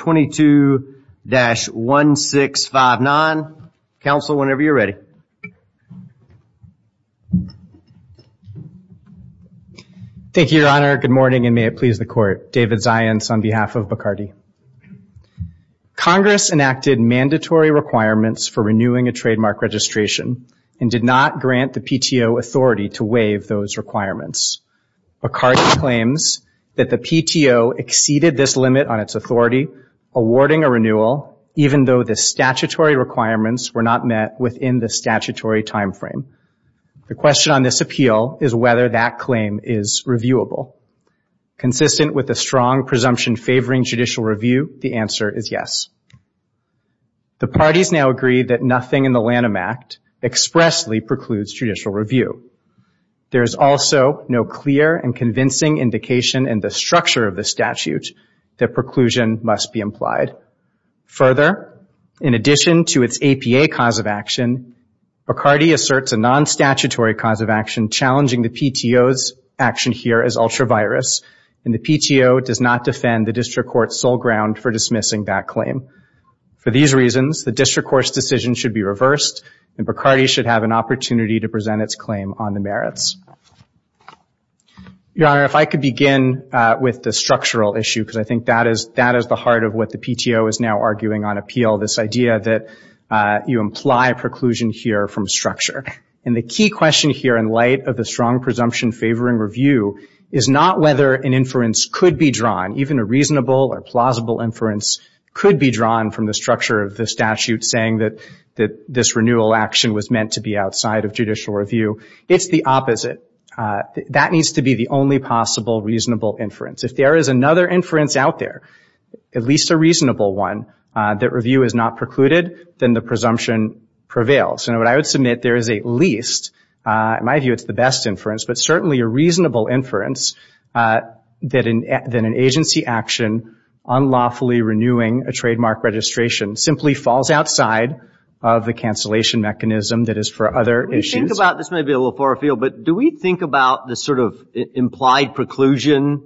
22-1659. Council, whenever you're ready. Thank you, Your Honor. Good morning, and may it please the Court. David Zients on behalf of Bacardi. Congress enacted mandatory requirements for renewing a trademark registration and did not grant the PTO authority to waive those awarding a renewal, even though the statutory requirements were not met within the statutory timeframe. The question on this appeal is whether that claim is reviewable. Consistent with a strong presumption favoring judicial review, the answer is yes. The parties now agree that nothing in the Lanham Act expressly precludes judicial review. There is also no clear and convincing indication in the structure of the statute that preclusion must be implied. Further, in addition to its APA cause of action, Bacardi asserts a non-statutory cause of action challenging the PTO's action here as ultra-virus, and the PTO does not defend the district court's sole ground for dismissing that claim. For these reasons, the district court's decision should be reversed, and Bacardi should have an opportunity to present its claim on the merits. Your Honor, if I could begin with the structural issue, because I think that is the heart of what the PTO is now arguing on appeal, this idea that you imply preclusion here from structure. The key question here in light of the strong presumption favoring review is not whether an inference could be drawn, even a reasonable or plausible inference could be drawn from the structure of the statute saying that this renewal action was meant to be outside of judicial review. It's the opposite. That needs to be the only possible reasonable inference. If there is another inference out there, at least a reasonable one, that review has not precluded, then the presumption prevails. What I would submit there is at least, in my view it's the best inference, but certainly a reasonable inference that an agency action unlawfully renewing a trademark registration simply falls outside of the cancellation mechanism that is for other issues. This may be a little far afield, but do we think about this sort of implied preclusion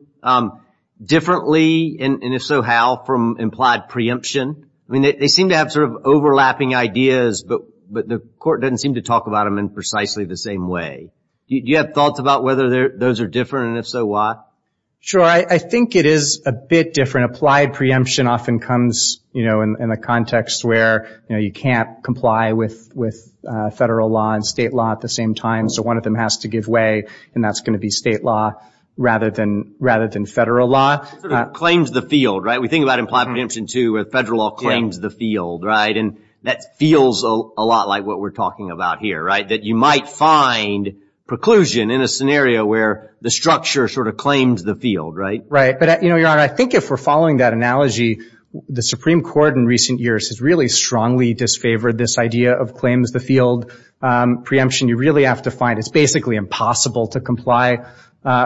differently, and if so, how, from implied preemption? I mean, they seem to have sort of overlapping ideas, but the court doesn't seem to talk about them in precisely the same way. Do you have thoughts about whether those are different, and if so, why? Sure. I think it is a bit different. Applied preemption often comes in the context where you can't comply with federal law and state law at the same time, so one of them has to give way, and that's going to be state law rather than federal law. It sort of claims the field, right? We think about implied preemption, too, where federal law claims the field, and that feels a lot like what we're talking about here, that you might find preclusion in a scenario where the structure sort of claims the field, right? Right. But, Your Honor, I think if we're following that analogy, the Supreme Court in recent years has really strongly disfavored this idea of claims the field preemption. You really have to find it's basically impossible to comply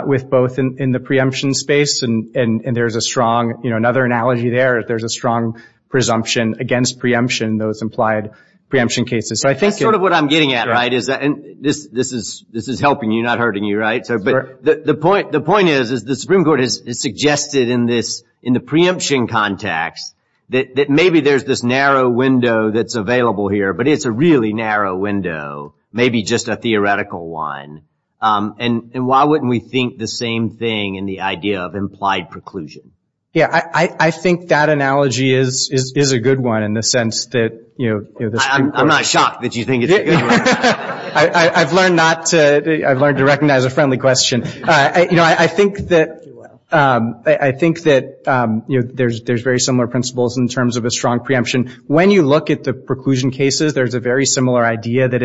with both in the preemption space, and there's a strong, you know, another analogy there, there's a strong presumption against preemption in those implied preemption cases. So I think it's That's sort of what I'm getting at, right, is that, and this is helping you, not hurting you, right? So, but the point is, is the Supreme Court has suggested in this, in the preemption context that maybe there's this narrow window that's available here, but it's a really narrow window, maybe just a theoretical one, and why wouldn't we think the same thing in the idea of implied preclusion? Yeah, I think that analogy is a good one in the sense that, you know, I'm not shocked that you think it's a good one. I've learned not to, I've learned to recognize a friendly question. You know, I think that, I think that, you know, there's very similar principles in terms of a strong preemption. When you look at the preclusion cases, there's a very similar idea that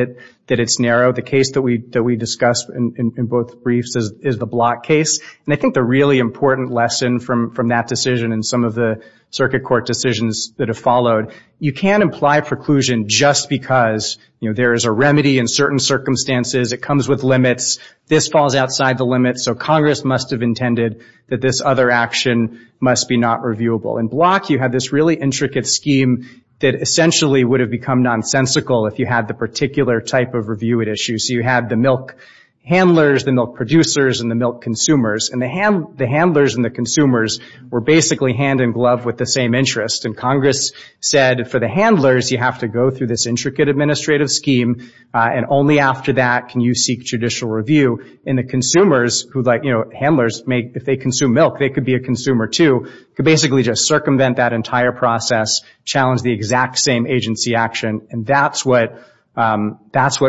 it's narrow. The case that we discussed in both briefs is the Block case, and I think the really important lesson from that decision and some of the circuit court decisions that have followed, you can't imply preclusion just because, you know, there is a remedy in certain circumstances, it comes with limits, this falls outside the limits, so Congress must have intended that this other action must be not reviewable. In Block, you had this really intricate scheme that essentially would have become nonsensical if you had the particular type of review it issues. You had the milk handlers, the milk producers, and the milk consumers, and the handlers and the consumers were basically hand in glove with the same interest, and Congress said for the handlers, you have to go through this intricate administrative scheme, and only after that can you seek judicial review, and the consumers who like, you know, handlers make, if they consume milk, they could be a consumer too, could basically just circumvent that entire process, challenge the exact same agency action, and that's what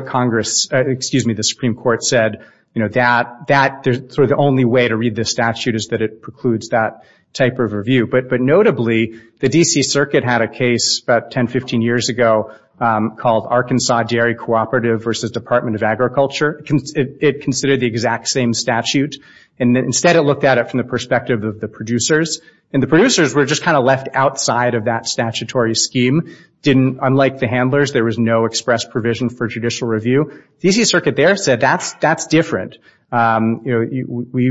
Congress, excuse me, the Supreme Court said, you know, that sort of the only way to read this statute is that it precludes that type of review, but notably, the D.C. Circuit had a case about 10, 15 years ago called Arkansas Dairy Cooperative versus Department of Agriculture. It considered the exact same statute, and instead, it looked at it from the perspective of the producers, and the producers were just kind of left outside of that statutory scheme, unlike the handlers, there was no express provision for judicial review. The D.C. Circuit there said that's different. You know, we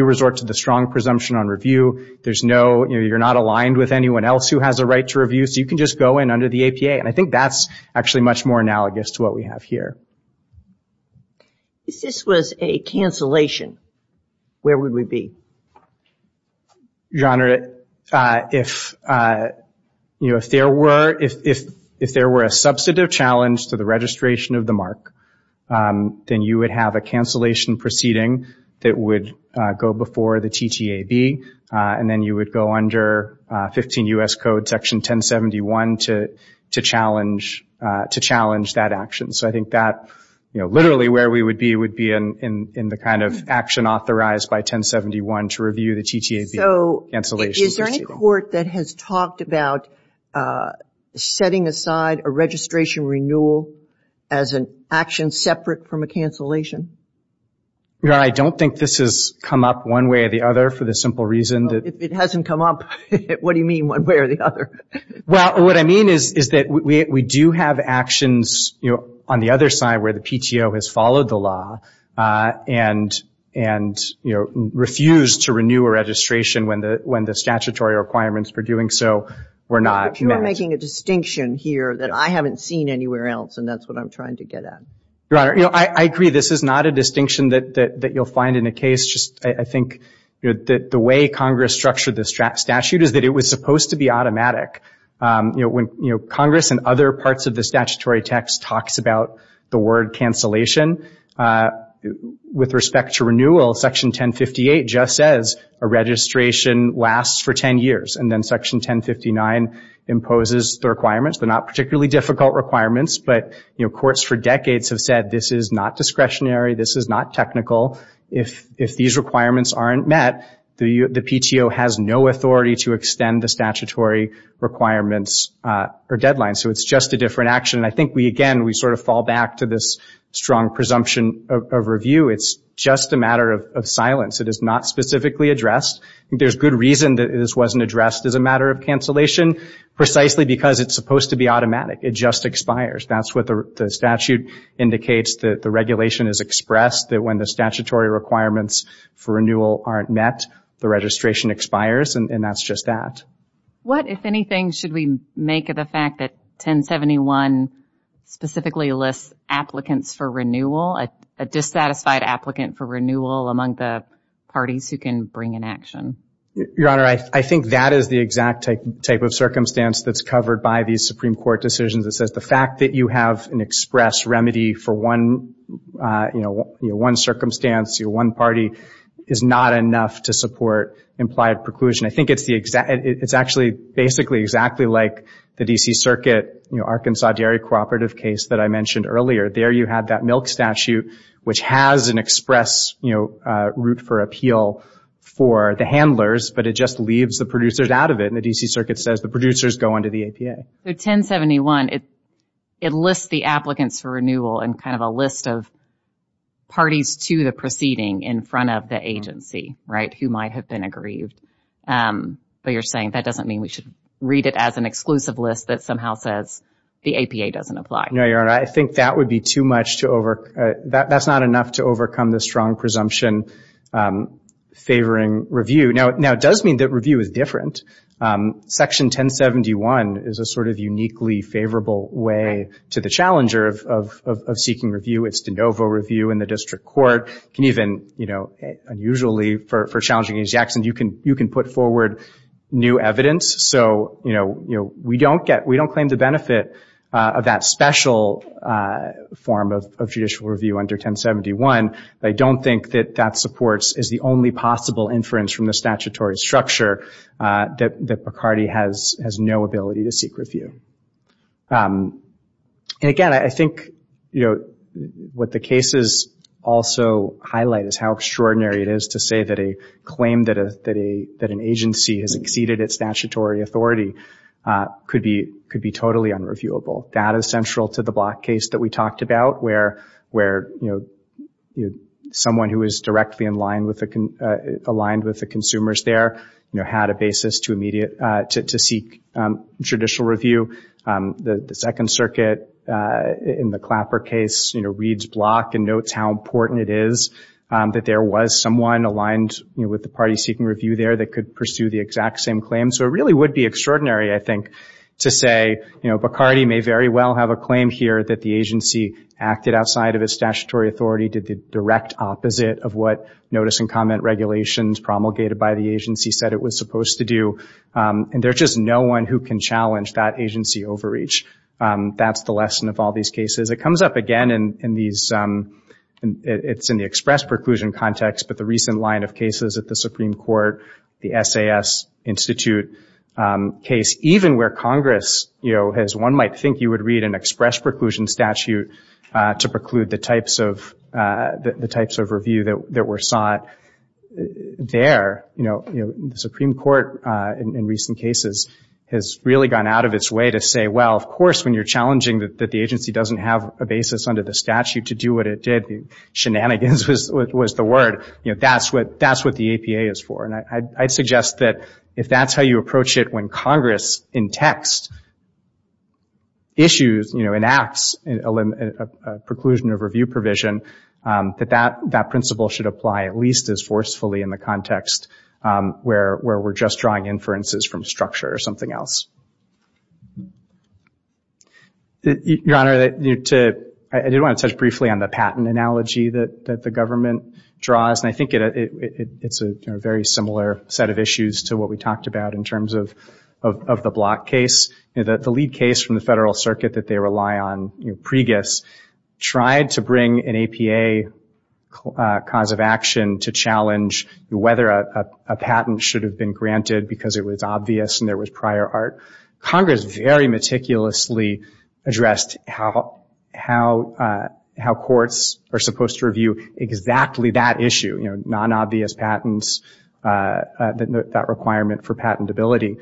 resort to the strong presumption on review. There's no, you know, you're not aligned with anyone else who has a right to review, so you can just go in under the APA, and I think that's actually much more analogous to what we have here. If this was a cancellation, where would we be? Your Honor, if, you know, if there were a substantive challenge to the registration of the mark, then you would have a cancellation proceeding that would go before the TTAB, and then you would go under 15 U.S. Code Section 1071 to challenge that action. So I think that, you know, literally where we would be would be in the kind of action authorized by 1071 to review the TTAB cancellation proceeding. Is there any court that has talked about setting aside a registration renewal as an action separate from a cancellation? Your Honor, I don't think this has come up one way or the other for the simple reason that If it hasn't come up, what do you mean one way or the other? Well, what I mean is that we do have actions, you know, on the other side where the PTO has followed the law and, you know, refused to renew a registration when the statutory requirements for doing so were not met. But you're making a distinction here that I haven't seen anywhere else, and that's what I'm trying to get at. Your Honor, you know, I agree this is not a distinction that you'll find in a case. Just I think that the way Congress structured the statute is that it was supposed to be automatic. You know, when Congress and other parts of the statutory text talks about the word cancellation, with respect to renewal, Section 1058 just says a registration lasts for 10 years, and then Section 1059 imposes the requirements. They're not particularly difficult requirements, but, you know, courts for decades have said this is not discretionary, this is not technical. If these requirements aren't met, the PTO has no authority to extend the statutory requirements or deadlines. So it's just a different action. And I think we, again, we sort of fall back to this strong presumption of review. It's just a matter of silence. It is not specifically addressed. There's good reason that this wasn't addressed as a matter of cancellation, precisely because it's supposed to be automatic. It just expires. That's what the statute indicates, that the regulation is expressed, that when the statutory requirements for renewal aren't met, the registration expires, and that's just that. What, if anything, should we make of the fact that 1071 specifically lists applicants for renewal, a dissatisfied applicant for renewal among the parties who can bring an action? Your Honor, I think that is the exact type of circumstance that's covered by these Supreme Court decisions. It says the fact that you have an express remedy for one, you know, one circumstance, one party, is not enough to support implied preclusion. I think it's the exact, it's actually basically exactly like the D.C. Circuit, you know, Arkansas dairy cooperative case that I mentioned earlier. There you have that milk statute, which has an express, you know, route for appeal for the handlers, but it just leaves the producers out of it, and the D.C. Circuit says the producers go under the APA. So 1071, it lists the applicants for renewal in kind of a list of parties to the proceeding in front of the agency, right, who might have been aggrieved, but you're saying that doesn't mean we should read it as an exclusive list that somehow says the APA doesn't apply. No, Your Honor, I think that would be too much to over, that's not enough to overcome the strong presumption favoring review. Now, it does mean that review is different. Section 1071 is a sort of uniquely favorable way to the challenger of seeking review. It's de novo review in the district court, can even, you know, unusually for challenging agency actions, you can put forward new evidence. So, you know, we don't get, we don't claim the benefit of that special form of judicial review under 1071, but I don't think that that supports, is the only possible inference from the statutory structure that Picardy has no ability to seek review. And again, I think, you know, what the cases also highlight is how extraordinary it is to say that a claim that an agency has exceeded its statutory authority could be totally unreviewable. That is central to the Block case that we talked about where, you know, someone who is directly aligned with the consumers there, you know, had a basis to seek judicial review. The Second Circuit in the Clapper case, you know, reads Block and notes how important it is that there was someone aligned, you know, with the party seeking review there that could pursue the exact same claim. So it really would be extraordinary, I think, to say, you know, Picardy may very well have a claim here that the agency acted outside of its statutory authority, did the direct opposite of what notice and comment regulations promulgated by the agency said it was supposed to do, and there's just no one who can challenge that agency overreach. That's the lesson of all these cases. It comes up again in these, it's in the express preclusion context, but the recent line of cases at the Supreme Court, the SAS Institute case, even where Congress, you know, has one might think you would read an express preclusion statute to preclude the types of review that were sought there, you know, the Supreme Court in recent cases has really gone out of its way to say, well, of course, when you're challenging that the agency doesn't have a basis under the statute to do what it did, shenanigans was the word, you know, that's what the APA is for, and I'd suggest that if that's how you approach it when Congress in text issues, you know, enacts a preclusion of review provision, that that principle should apply at least as forcefully in the context where we're just drawing inferences from structure or something else. Your Honor, I did want to touch briefly on the patent analogy that the government draws, and I think it's a very similar set of issues to what we talked about in terms of the Block case. You know, the lead case from the Federal Circuit that they rely on, you know, pregis, tried to bring an APA cause of action to challenge whether a patent should have been granted because it was obvious and there was prior art. Congress very meticulously addressed how courts are supposed to review exactly that issue, you know, non-obvious patents, that requirement for patentability,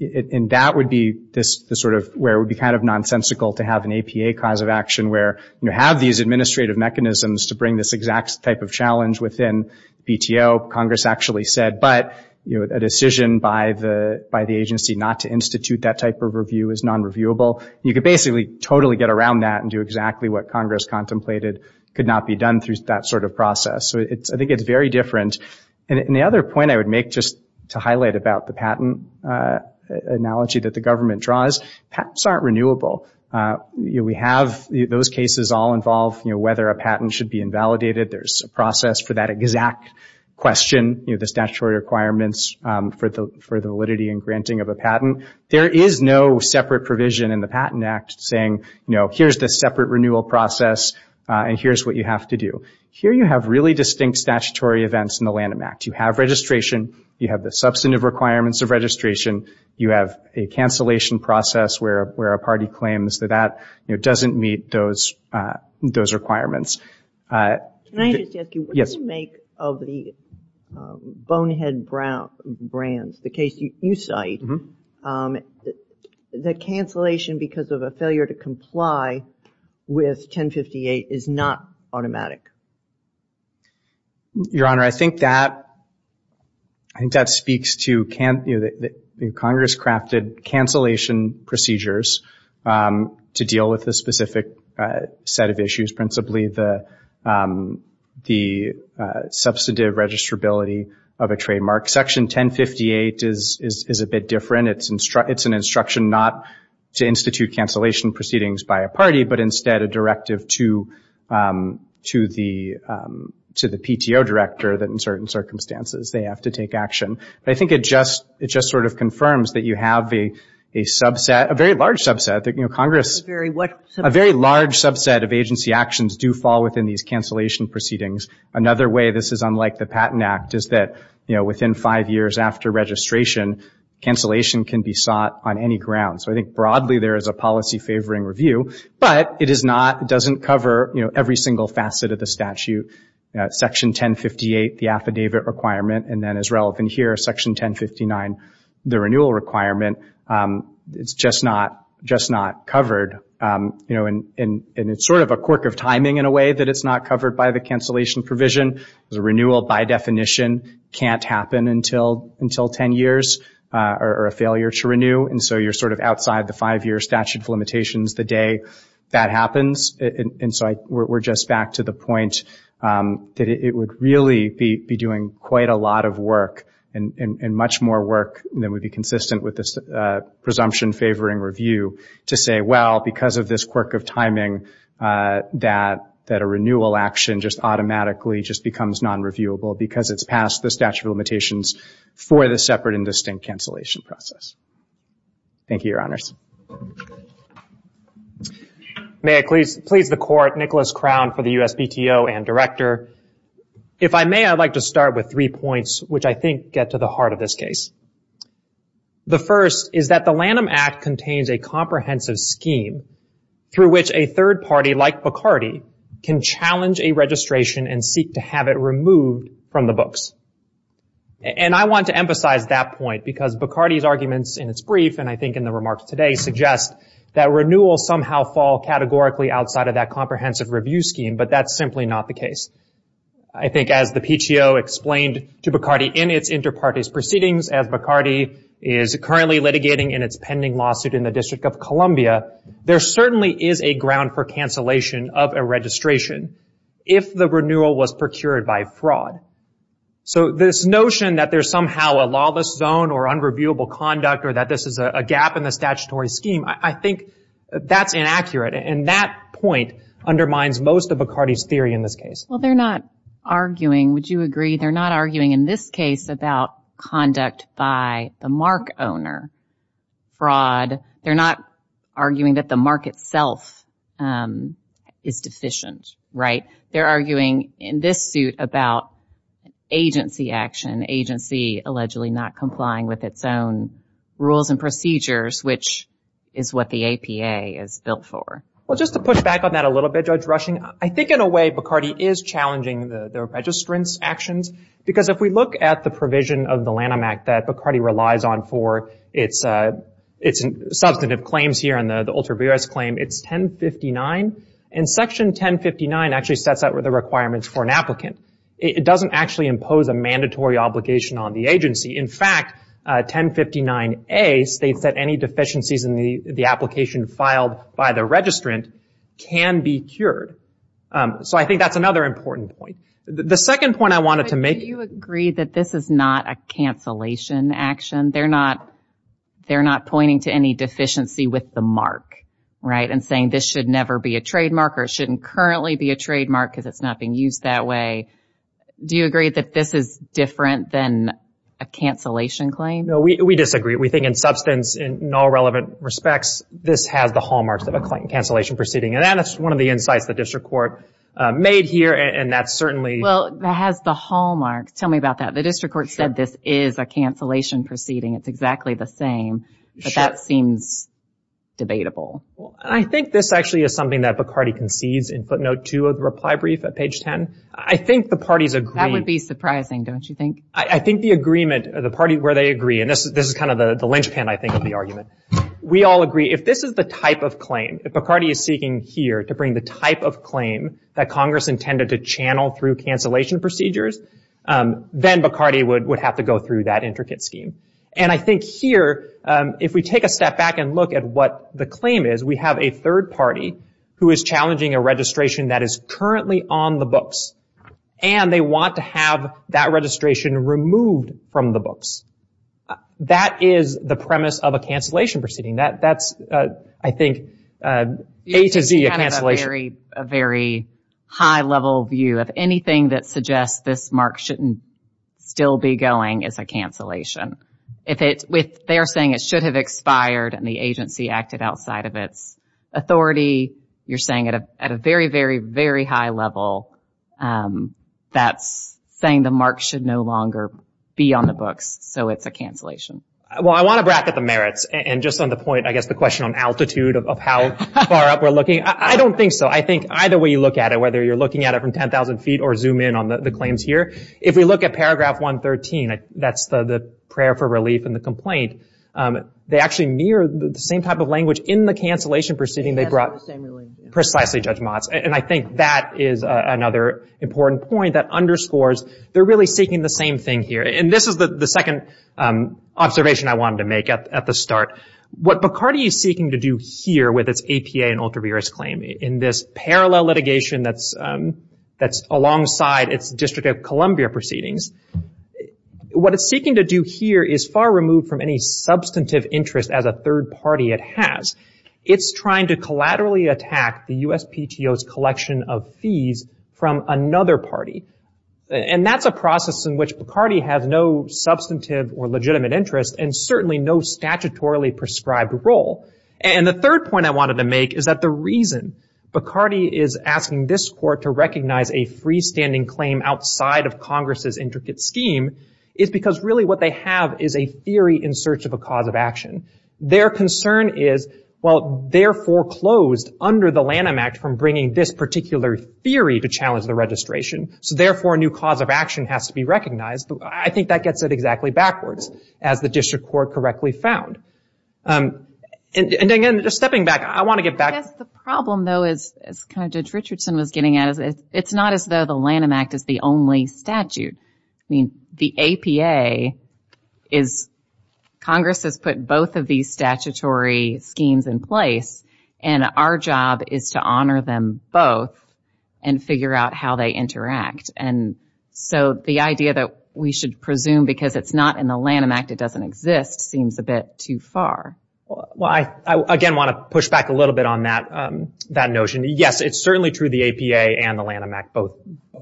and that would be the sort of where it would be kind of nonsensical to have an APA cause of action where you have these administrative mechanisms to bring this exact type of challenge within BTO. Congress actually said, but, you know, a decision by the agency not to institute that type of review is non-reviewable. You could basically totally get around that and do exactly what Congress contemplated could not be done through that sort of process. So I think it's very different, and the other point I would make just to highlight about the patent analogy that the government draws, patents aren't renewable. We have those cases all involve, you know, whether a patent should be invalidated. There's a process for that exact question, you know, the statutory requirements for the validity and granting of a patent. There is no separate provision in the Patent Act saying, you know, here's the separate renewal process and here's what you have to do. Here you have really distinct statutory events in the Lanham Act. You have registration, you have the substantive requirements of registration, you have a cancellation process where a party claims that that, you know, doesn't meet those requirements. Can I just ask you, what do you make of the Bonehead Brands, the case you cite, that cancellation because of a failure to comply with 1058 is not automatic? Your Honor, I think that, I think that speaks to, you know, the Congress crafted cancellation procedures to deal with a specific set of issues, principally the substantive registrability of a trademark. Section 1058 is a bit different. It's an instruction not to institute cancellation proceedings by a party, but instead a directive to the PTO director that in certain circumstances they have to take action. But I think it just sort of confirms that you have a subset, a very large subset, of agency actions do fall within these cancellation proceedings. Another way this is unlike the Patent Act is that, you know, within five years after registration, cancellation can be sought on any ground. So I think broadly there is a policy favoring review, but it is not, it doesn't cover, you know, every single facet of the statute. Section 1058, the affidavit requirement, and then as relevant here, Section 1059, the renewal requirement, it's just not covered. You know, and it's sort of a quirk of timing in a way that it's not covered by the cancellation provision. The renewal, by definition, can't happen until 10 years or a failure to renew. And so you're sort of outside the five-year statute of limitations the day that happens. And so we're just back to the point that it would really be doing quite a lot of work and much more work than would be consistent with this presumption favoring review to say, well, because of this quirk of timing, that a renewal action just automatically just becomes non-reviewable because it's past the statute of limitations for the separate and distinct cancellation process. Thank you, Your Honors. May I please the Court, Nicholas Crown for the USPTO and Director. If I may, I'd like to start with three points which I think get to the heart of this case. The first is that the Lanham Act contains a comprehensive scheme through which a third party, like Bacardi, can challenge a registration and seek to have it removed from the books. And I want to emphasize that point because Bacardi's arguments in its brief, and I think in the remarks today, suggest that renewals somehow fall categorically outside of that comprehensive review scheme, but that's simply not the case. I think as the PTO explained to Bacardi in its inter-parties proceedings, as Bacardi is currently litigating in its pending lawsuit in the District of Columbia, there certainly is a ground for cancellation of a registration if the renewal was procured by fraud. So this notion that there's somehow a lawless zone or unreviewable conduct or that this is a gap in the statutory scheme, I think that's inaccurate. And that point undermines most of Bacardi's theory in this case. Well, they're not arguing, would you agree, they're not arguing in this case about conduct by the MARC owner, fraud. They're not arguing that the MARC itself is deficient, right? They're arguing in this suit about agency action, agency allegedly not complying with its own rules and procedures, which is what the APA is built for. Well, just to push back on that a little bit, Judge Rushing, I think in a way Bacardi is challenging the registrant's actions, because if we look at the provision of the Lanham Act that Bacardi relies on for its substantive claims here and the ultraviarious claim, it's 1059. And Section 1059 actually sets out the requirements for an applicant. It doesn't actually impose a mandatory obligation on the agency. In fact, 1059A states that any deficiencies in the application filed by the registrant can be cured. So I think that's another important point. The second point I wanted to make. Do you agree that this is not a cancellation action? They're not pointing to any deficiency with the MARC, right, and saying this should never be a trademark or it shouldn't currently be a trademark because it's not being used that way. Do you agree that this is different than a cancellation claim? No, we disagree. We think in substance, in all relevant respects, this has the hallmarks of a cancellation proceeding. And that's one of the insights the district court made here, and that's certainly... Well, it has the hallmarks. Tell me about that. The district court said this is a cancellation proceeding. It's exactly the same. But that seems debatable. I think this actually is something that Bacardi concedes in footnote 2 of the reply brief at page 10. I think the parties agree. That would be surprising, don't you think? I think the agreement, the party where they agree, and this is kind of the linchpin, I think, of the argument. We all agree if this is the type of claim, if Bacardi is seeking here to bring the type of claim that Congress intended to channel through cancellation procedures, then Bacardi would have to go through that intricate scheme. And I think here, if we take a step back and look at what the claim is, we have a third party who is challenging a registration that is currently on the books, and they want to have that registration removed from the books. That is the premise of a cancellation proceeding. That's, I think, A to Z, a cancellation. It's kind of a very high-level view. If anything that suggests this mark shouldn't still be going is a cancellation. If they are saying it should have expired and the agency acted outside of its authority, you're saying at a very, very, very high level that's saying the mark should no longer be on the books, so it's a cancellation. Well, I want to bracket the merits, and just on the point, I guess the question on altitude of how far up we're looking, I don't think so. I think either way you look at it, whether you're looking at it from 10,000 feet or zoom in on the claims here, if we look at paragraph 113, that's the prayer for relief and the complaint, they actually mirror the same type of language in the cancellation proceeding they brought precisely Judge Motz. And I think that is another important point that underscores they're really seeking the same thing here. And this is the second observation I wanted to make at the start. What Bacardi is seeking to do here with its APA and ultraviarious claim in this parallel litigation that's alongside its District of Columbia proceedings, what it's seeking to do here is far removed from any substantive interest as a third party it has. It's trying to collaterally attack the USPTO's collection of fees from another party. And that's a process in which Bacardi has no substantive or legitimate interest and certainly no statutorily prescribed role. And the third point I wanted to make is that the reason Bacardi is asking this court to recognize a freestanding claim outside of Congress's intricate scheme is because really what they have is a theory in search of a cause of action. Their concern is, well, they're foreclosed under the Lanham Act from bringing this particular theory to challenge the registration, so therefore a new cause of action has to be recognized. I think that gets it exactly backwards, as the District Court correctly found. And again, just stepping back, I want to get back... I guess the problem, though, as Judge Richardson was getting at, is it's not as though the Lanham Act is the only statute. I mean, the APA is... Congress has put both of these statutory schemes in place, and our job is to honor them both and figure out how they interact. And so the idea that we should presume because it's not in the Lanham Act, it doesn't exist, seems a bit too far. Well, I, again, want to push back a little bit on that notion. Yes, it's certainly true the APA and the Lanham Act both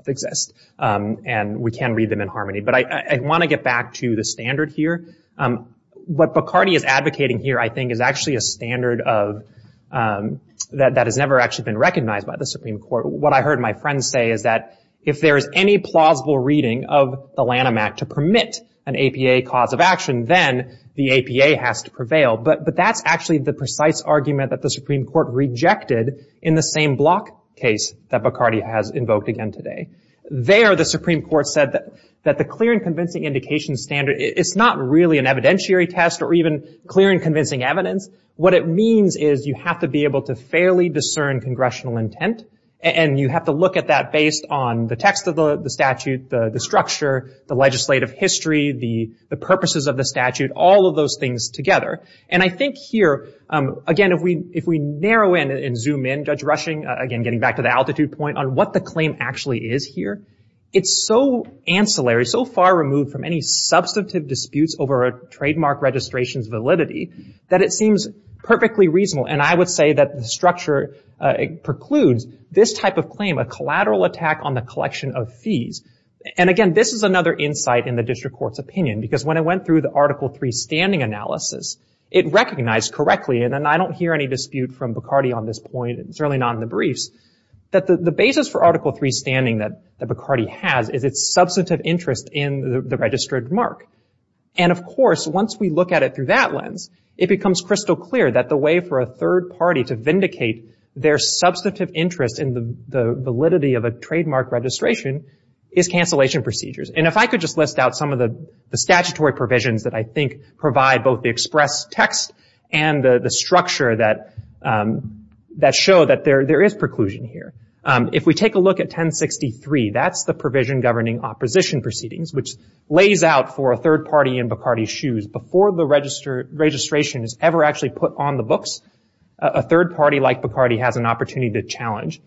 exist, and we can read them in harmony. But I want to get back to the standard here. What Bacardi is advocating here, I think, is actually a standard of... that has never actually been recognized by the Supreme Court. What I heard my friends say is that if there is any plausible reading of the Lanham Act to permit an APA cause of action, then the APA has to prevail. But that's actually the precise argument that the Supreme Court rejected in the same block case that Bacardi has invoked again today. There, the Supreme Court said that the clear and convincing indication standard, it's not really an evidentiary test or even clear and convincing evidence. What it means is you have to be able to fairly discern congressional intent, and you have to look at that based on the text of the statute, the structure, the legislative history, the purposes of the statute, all of those things together. And I think here, again, if we narrow in and zoom in, Judge Rushing, again, getting back to the altitude point, on what the claim actually is here, it's so ancillary, so far removed from any substantive disputes over a trademark registration's validity, that it seems perfectly reasonable. And I would say that the structure precludes this type of claim, a collateral attack on the collection of fees. And again, this is another insight in the district court's opinion, because when I went through the Article III standing analysis, it recognized correctly, and I don't hear any dispute from Bacardi on this point, certainly not in the briefs, that the basis for Article III standing that Bacardi has is its substantive interest in the registered mark. And of course, once we look at it through that lens, it becomes crystal clear that the way for a third party to vindicate their substantive interest in the validity of a trademark registration is cancellation procedures. And if I could just list out some of the statutory provisions that I think provide both the express text and the structure that show that there is preclusion here. If we take a look at 1063, that's the provision governing opposition proceedings, which lays out for a third party in Bacardi's shoes, before the registration is ever actually put on the books, a third party like Bacardi has an opportunity to challenge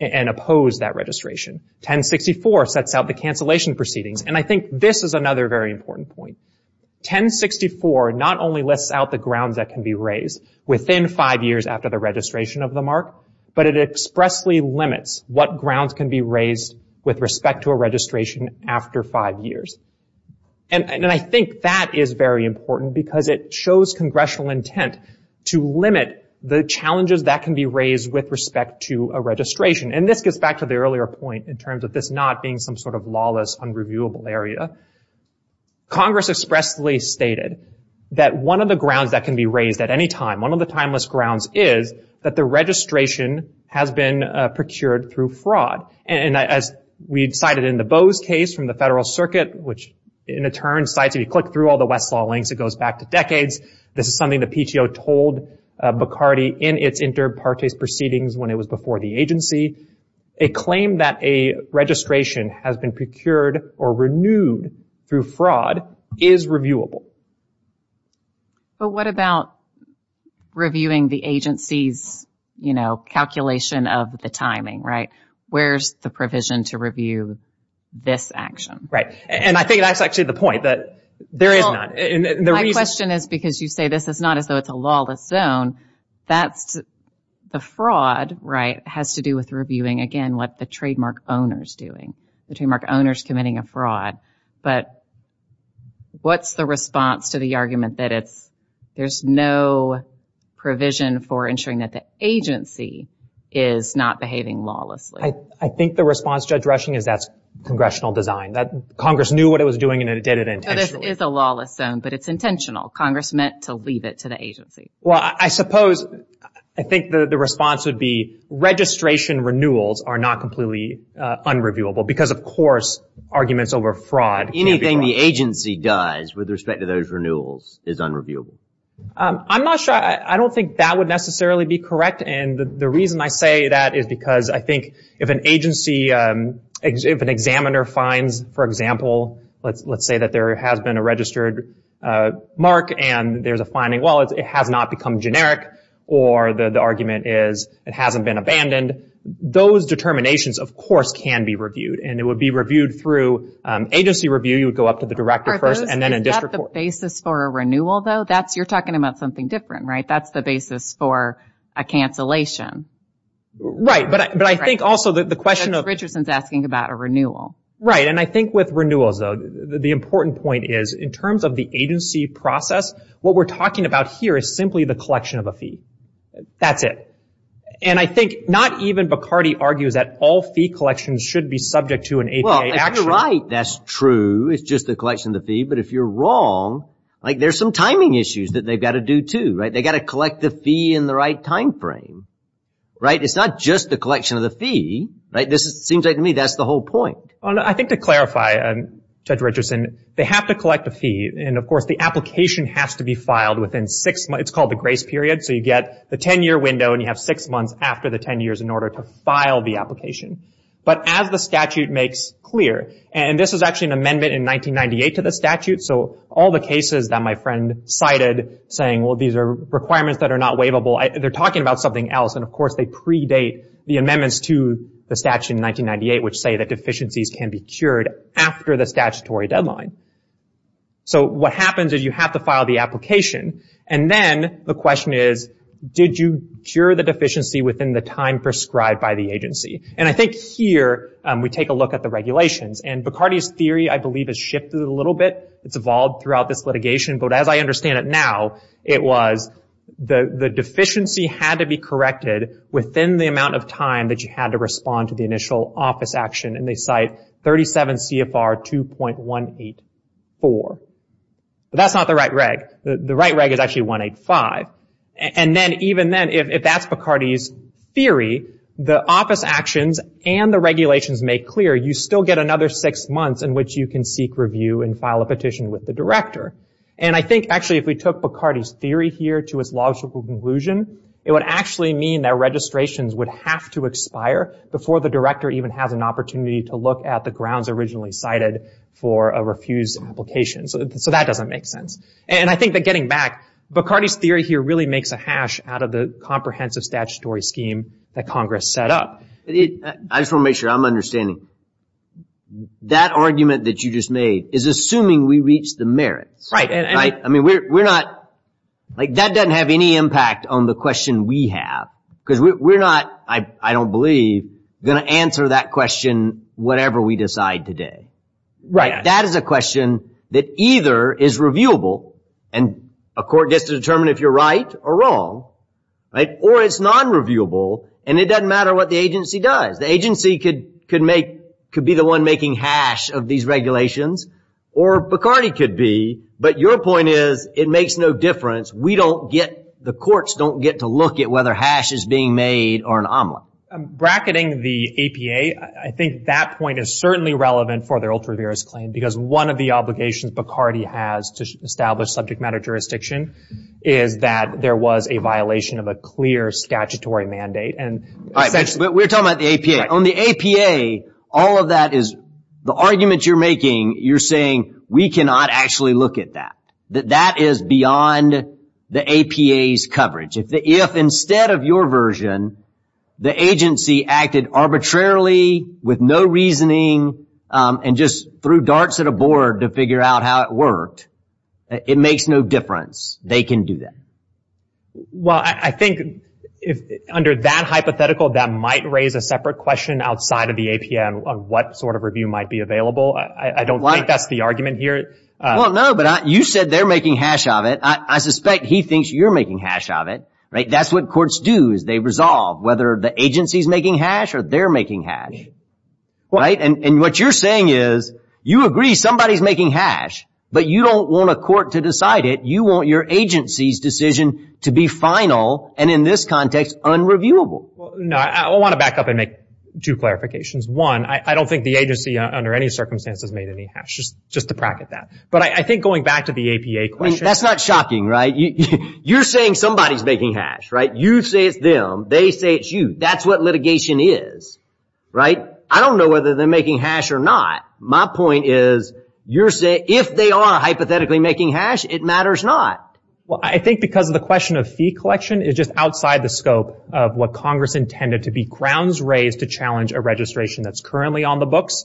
and oppose that registration. 1064 sets out the cancellation proceedings, and I think this is another very important point. 1064 not only lists out the grounds that can be raised within five years after the registration of the mark, but it expressly limits what grounds can be raised with respect to a registration after five years. And I think that is very important because it shows congressional intent to limit the challenges that can be raised with respect to a registration. And this gets back to the earlier point in terms of this not being some sort of lawless, unreviewable area. Congress expressly stated that one of the grounds that can be raised at any time, one of the timeless grounds is that the registration has been procured through fraud. And as we've cited in the Bose case from the Federal Circuit, which in a turn cites, if you click through all the Westlaw links, it goes back to decades. This is something the PTO told Bacardi in its inter partes proceedings when it was before the agency. A claim that a registration has been procured or renewed through fraud is reviewable. But what about reviewing the agency's, you know, calculation of the timing, right? Where's the provision to review this action? And I think that's actually the point, that there is none. My question is because you say this is not as though it's a lawless zone, that's the fraud, right, has to do with reviewing, again, what the trademark owner's doing. The trademark owner's committing a fraud. But what's the response to the argument that it's, there's no provision for ensuring that the agency is not behaving lawlessly? I think the response, Judge Rushing, is that's congressional design. That Congress knew what it was doing and it did it intentionally. So this is a lawless zone, but it's intentional. Congress meant to leave it to the agency. Well, I suppose, I think the response would be registration renewals are not completely unreviewable because, of course, arguments over fraud. Anything the agency does with respect to those renewals is unreviewable. I'm not sure. I don't think that would necessarily be correct. And the reason I say that is because I think if an agency, if an examiner finds, for example, let's say that there has been a registered mark and there's a finding. Well, it has not become generic or the argument is it hasn't been abandoned. Those determinations, of course, can be reviewed. And it would be reviewed through agency review. You would go up to the director first and then a district court. Is that the basis for a renewal, though? You're talking about something different, right? That's the basis for a cancellation. Right. But I think also the question of... Richardson's asking about a renewal. Right. And I think with renewals, though, the important point is in terms of the agency process, what we're talking about here is simply the collection of a fee. That's it. And I think not even Bacardi argues that all fee collections should be subject to an APA action. Well, you're right. That's true. It's just the collection of the fee. But if you're wrong, like there's some timing issues that they've got to do, too, right? They've got to collect the fee in the right time frame. Right? It's not just the collection of the fee. Right? This seems like to me that's the whole point. I think to clarify, Judge Richardson, they have to collect a fee. And, of course, the application has to be filed within six months. It's called the grace period. So you get the ten-year window, and you have six months after the ten years in order to file the application. But as the statute makes clear, and this is actually an amendment in 1998 to the statute, so all the cases that my friend cited saying, well, these are requirements that are not waivable, they're talking about something else. And, of course, they predate the amendments to the statute in 1998, which say that deficiencies can be cured after the statutory deadline. So what happens is you have to file the application, and then the question is, did you cure the deficiency within the time prescribed by the agency? And I think here we take a look at the regulations. And Bacardi's theory, I believe, has shifted a little bit. It's evolved throughout this litigation. But as I understand it now, it was the deficiency had to be corrected within the amount of time that you had to respond to the initial office action, and they cite 37 CFR 2.184. But that's not the right reg. The right reg is actually 185. And then even then, if that's Bacardi's theory, the office actions and the regulations make clear, you still get another six months in which you can seek review and file a petition with the director. And I think, actually, if we took Bacardi's theory here to its logical conclusion, it would actually mean that registrations would have to expire before the director even has an opportunity to look at the grounds originally cited for a refused application. So that doesn't make sense. And I think that getting back, Bacardi's theory here really makes a hash out of the comprehensive statutory scheme that Congress set up. I just want to make sure I'm understanding. That argument that you just made is assuming we reach the merits. Right. That doesn't have any impact on the question we have, because we're not, I don't believe, going to answer that question whatever we decide today. That is a question that either is reviewable, and a court gets to determine if you're right or wrong, or it's non-reviewable, and it doesn't matter what the agency does. The agency could be the one making hash of these regulations, or Bacardi could be, but your point is it makes no difference. We don't get, the courts don't get to look at whether hash is being made or an omelet. Bracketing the APA, I think that point is certainly relevant for their ultra-virus claim, because one of the obligations Bacardi has to establish subject matter jurisdiction is that there was a violation of a clear statutory mandate. All right, but we're talking about the APA. On the APA, all of that is, the argument you're making, you're saying we cannot actually look at that. That that is beyond the APA's coverage. If instead of your version, the agency acted arbitrarily with no reasoning, and just threw darts at a board to figure out how it worked, it makes no difference. They can do that. Well, I think under that hypothetical, that might raise a separate question outside of the APA on what sort of review might be available. I don't think that's the argument here. Well, no, but you said they're making hash of it. I suspect he thinks you're making hash of it. That's what courts do is they resolve whether the agency's making hash or they're making hash. And what you're saying is you agree somebody's making hash, but you don't want a court to decide it. You want your agency's decision to be final, and in this context, unreviewable. I want to back up and make two clarifications. One, I don't think the agency under any circumstances made any hash, just to bracket that. But I think going back to the APA question. That's not shocking, right? You're saying somebody's making hash, right? You say it's them. They say it's you. That's what litigation is, right? I don't know whether they're making hash or not. My point is if they are hypothetically making hash, it matters not. Well, I think because of the question of fee collection, it's just outside the scope of what Congress intended to be grounds raised to challenge a registration that's currently on the books,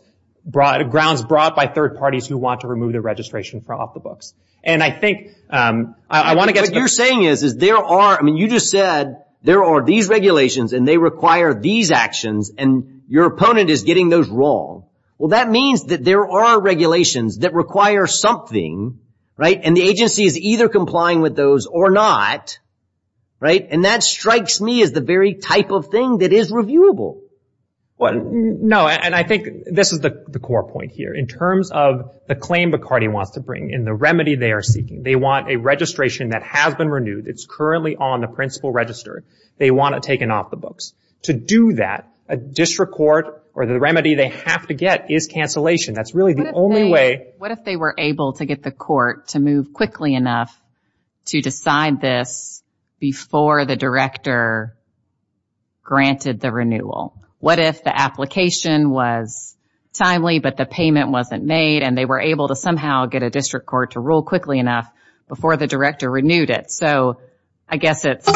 grounds brought by third parties who want to remove the registration from off the books. And I think I want to get to that. What you're saying is there are, I mean, you just said there are these regulations and they require these actions, and your opponent is getting those wrong. Well, that means that there are regulations that require something, right? And the agency is either complying with those or not, right? And that strikes me as the very type of thing that is reviewable. No, and I think this is the core point here. In terms of the claim Bacardi wants to bring and the remedy they are seeking, they want a registration that has been renewed, it's currently on the principal register, they want it taken off the books. To do that, a district court or the remedy they have to get is cancellation. That's really the only way. What if they were able to get the court to move quickly enough to decide this before the director granted the renewal? What if the application was timely but the payment wasn't made and they were able to somehow get a district court to rule quickly enough before the director renewed it? So I guess it's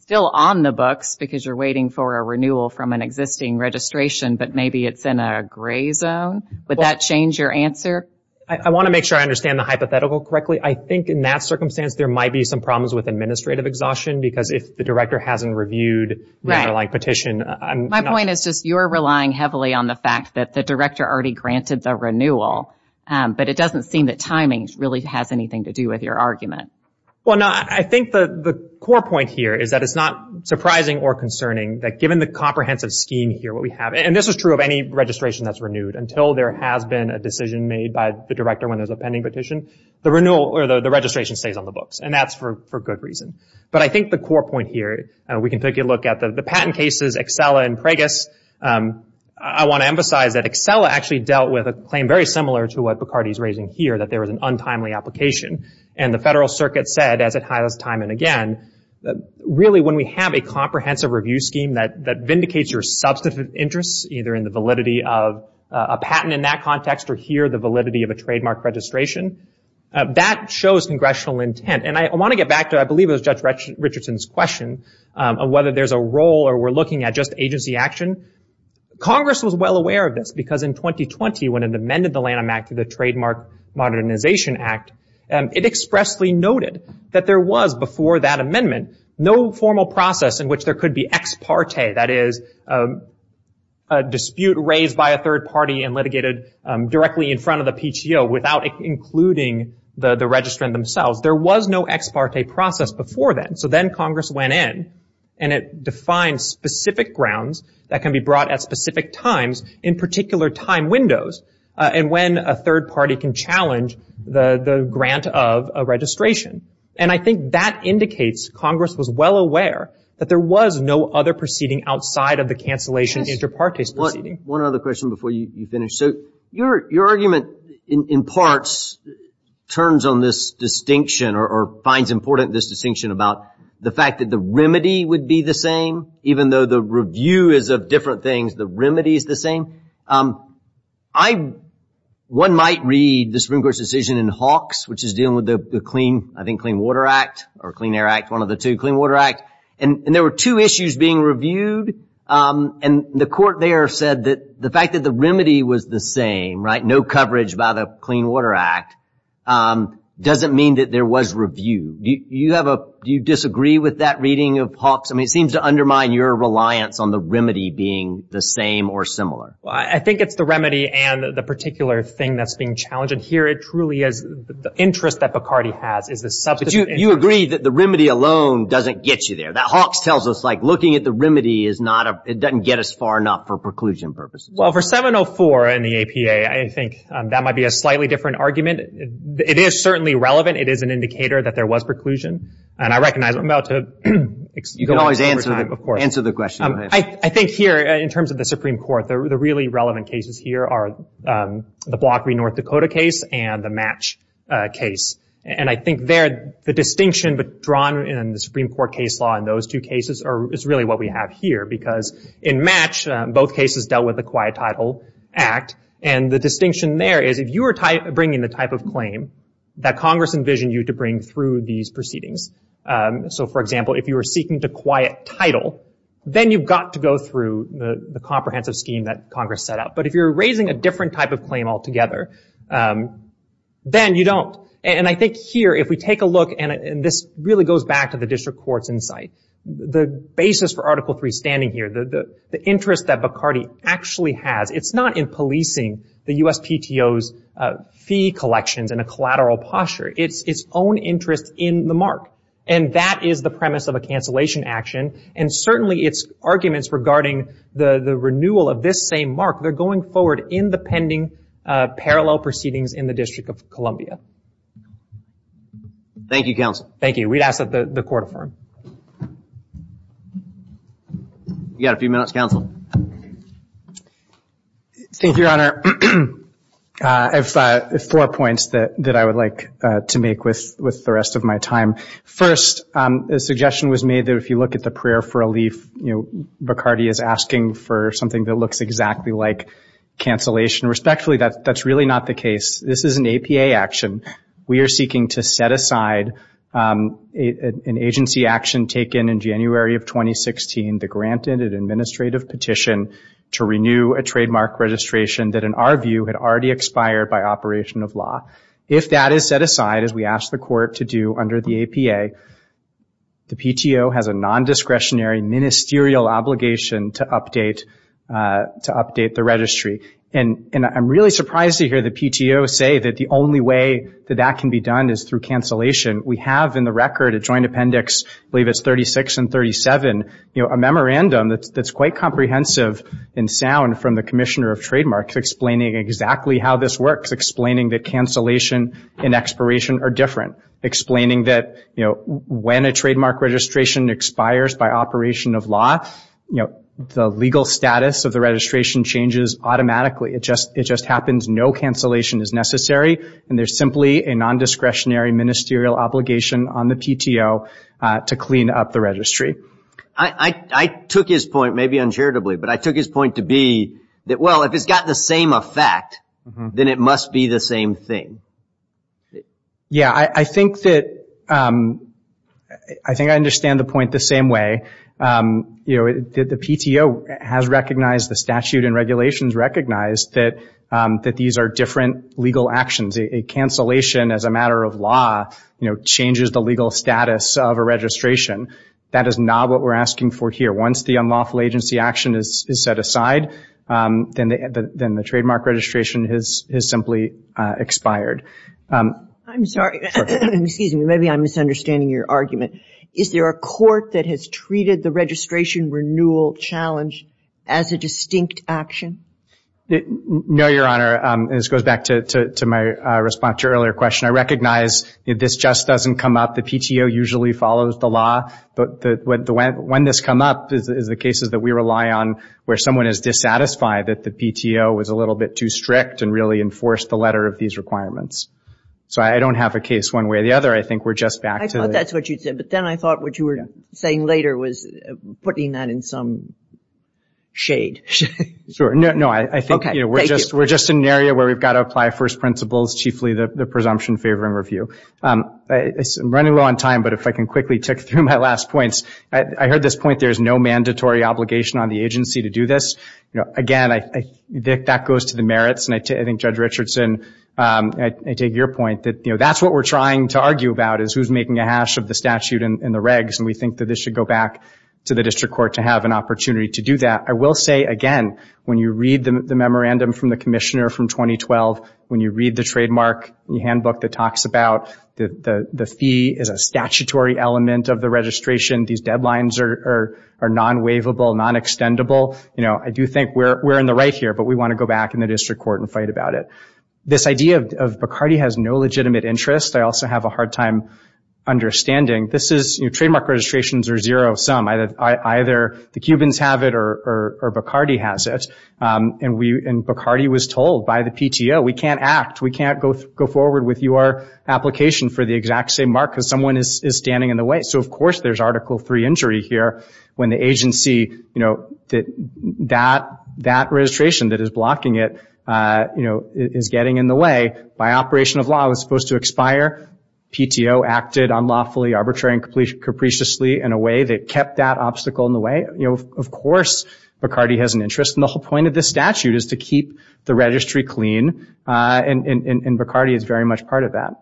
still on the books because you're waiting for a renewal from an existing registration, but maybe it's in a gray zone. Would that change your answer? I want to make sure I understand the hypothetical correctly. I think in that circumstance there might be some problems with administrative exhaustion because if the director hasn't reviewed the underlying petition. My point is just you're relying heavily on the fact that the director already granted the renewal, but it doesn't seem that timing really has anything to do with your argument. Well, no, I think the core point here is that it's not surprising or concerning that given the comprehensive scheme here what we have, and this is true of any registration that's renewed, until there has been a decision made by the director when there's a pending petition, the registration stays on the books, and that's for good reason. But I think the core point here, we can take a look at the patent cases, Excella and Preggis. I want to emphasize that Excella actually dealt with a claim very similar to what Bacardi is raising here, that there was an untimely application. And the Federal Circuit said, as it highlights time and again, really when we have a comprehensive review scheme that vindicates your substantive interests, either in the validity of a patent in that context or here the validity of a trademark registration, that shows congressional intent. And I want to get back to I believe it was Judge Richardson's question on whether there's a role or we're looking at just agency action. Congress was well aware of this because in 2020 when it amended the Lanham Act to the Trademark Modernization Act, it expressly noted that there was, before that amendment, no formal process in which there could be ex parte, that is a dispute raised by a third party and litigated directly in front of the PTO without including the registrant themselves. There was no ex parte process before then. So then Congress went in and it defined specific grounds that can be brought at specific times, in particular time windows, and when a third party can challenge the grant of a registration. And I think that indicates Congress was well aware that there was no other proceeding outside of the cancellation inter partes proceeding. One other question before you finish. So your argument in parts turns on this distinction or finds important this distinction about the fact that the remedy would be the same, even though the review is of different things, the remedy is the same. One might read the Supreme Court's decision in Hawks, which is dealing with the Clean Water Act, or Clean Air Act, one of the two, Clean Water Act, and there were two issues being reviewed. And the court there said that the fact that the remedy was the same, no coverage by the Clean Water Act, doesn't mean that there was review. Do you disagree with that reading of Hawks? I mean, it seems to undermine your reliance on the remedy being the same or similar. I think it's the remedy and the particular thing that's being challenged. And here it truly is the interest that Bacardi has is the substantive interest. But you agree that the remedy alone doesn't get you there. Hawks tells us looking at the remedy, it doesn't get us far enough for preclusion purposes. Well, for 704 and the APA, I think that might be a slightly different argument. It is certainly relevant. It is an indicator that there was preclusion. And I recognize I'm about to go over time, of course. You can always answer the question. I think here, in terms of the Supreme Court, the really relevant cases here are the Blockery, North Dakota case and the Match case. And I think there the distinction drawn in the Supreme Court case law in those two cases is really what we have here. Because in Match, both cases dealt with the Quiet Title Act. And the distinction there is if you were bringing the type of claim that Congress envisioned you to bring through these proceedings. So, for example, if you were seeking the Quiet Title, then you've got to go through the comprehensive scheme that Congress set up. But if you're raising a different type of claim altogether, then you don't. And I think here, if we take a look, and this really goes back to the district court's insight, the basis for Article III standing here, the interest that Bacardi actually has, it's not in policing the USPTO's fee collections in a collateral posture. It's its own interest in the mark. And that is the premise of a cancellation action. And certainly its arguments regarding the renewal of this same mark, they're going forward in the pending parallel proceedings in the District of Columbia. Thank you, Counsel. Thank you. We'd ask that the Court affirm. You've got a few minutes, Counsel. Thank you, Your Honor. I have four points that I would like to make with the rest of my time. First, a suggestion was made that if you look at the prayer for relief, Bacardi is asking for something that looks exactly like cancellation. Respectfully, that's really not the case. This is an APA action. We are seeking to set aside an agency action taken in January of 2016, the granted and administrative petition to renew a trademark registration that, in our view, had already expired by operation of law. If that is set aside, as we ask the Court to do under the APA, the PTO has a nondiscretionary ministerial obligation to update the registry. And I'm really surprised to hear the PTO say that the only way that that can be done is through cancellation. We have in the record a joint appendix, I believe it's 36 and 37, a memorandum that's quite comprehensive and sound from the Commissioner of Trademarks explaining exactly how this works, explaining that cancellation and expiration are different, explaining that when a trademark registration expires by operation of law, the legal status of the registration changes automatically. It just happens no cancellation is necessary, and there's simply a nondiscretionary ministerial obligation on the PTO to clean up the registry. I took his point, maybe uncharitably, but I took his point to be that, well, if it's got the same effect, then it must be the same thing. Yeah, I think that I understand the point the same way. The PTO has recognized, the statute and regulations recognize that these are different legal actions. A cancellation as a matter of law changes the legal status of a registration. That is not what we're asking for here. Once the unlawful agency action is set aside, then the trademark registration has simply expired. I'm sorry. Excuse me. Maybe I'm misunderstanding your argument. Is there a court that has treated the registration renewal challenge as a distinct action? No, Your Honor. This goes back to my response to your earlier question. I recognize that this just doesn't come up. The PTO usually follows the law, but when this comes up is the cases that we rely on where someone is dissatisfied that the PTO was a little bit too strict and really enforced the letter of these requirements. So I don't have a case one way or the other. I thought that's what you said, but then I thought what you were saying later was putting that in some shade. Sure. No, I think we're just in an area where we've got to apply first principles, chiefly the presumption favoring review. I'm running low on time, but if I can quickly tick through my last points. I heard this point, there's no mandatory obligation on the agency to do this. Again, that goes to the merits. I think Judge Richardson, I take your point that that's what we're trying to argue about is who's making a hash of the statute and the regs, and we think that this should go back to the district court to have an opportunity to do that. I will say, again, when you read the memorandum from the commissioner from 2012, when you read the trademark handbook that talks about the fee is a statutory element of the registration, these deadlines are non-waivable, non-extendable. I do think we're in the right here, but we want to go back in the district court and fight about it. This idea of Bacardi has no legitimate interest, I also have a hard time understanding. Trademark registrations are zero-sum. Either the Cubans have it or Bacardi has it, and Bacardi was told by the PTO, we can't act. We can't go forward with your application for the exact same mark because someone is standing in the way. So, of course, there's Article III injury here when the agency, that registration that is blocking it is getting in the way. By operation of law, it was supposed to expire. PTO acted unlawfully, arbitrarily, and capriciously in a way that kept that obstacle in the way. Of course, Bacardi has an interest, and the whole point of this statute is to keep the registry clean, and Bacardi is very much part of that.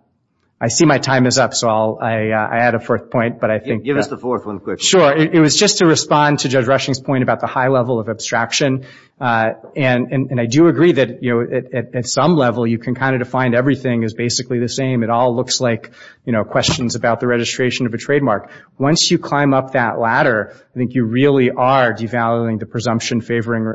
I see my time is up, so I'll add a fourth point. Give us the fourth one quick. Sure. It was just to respond to Judge Rushing's point about the high level of abstraction, and I do agree that at some level you can kind of define everything as basically the same. It all looks like questions about the registration of a trademark. Once you climb up that ladder, I think you really are devaluing the presumption favoring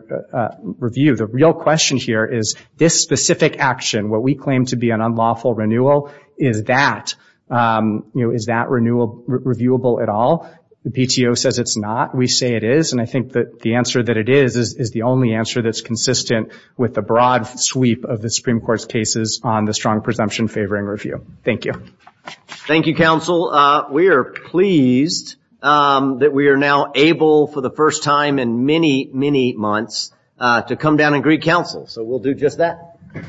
review. The real question here is this specific action, what we claim to be an unlawful renewal, is that, you know, is that renewal reviewable at all? The PTO says it's not. We say it is, and I think that the answer that it is is the only answer that's consistent with the broad sweep of the Supreme Court's cases on the strong presumption favoring review. Thank you. Thank you, counsel. We are pleased that we are now able for the first time in many, many months to come down and greet counsel, so we'll do just that.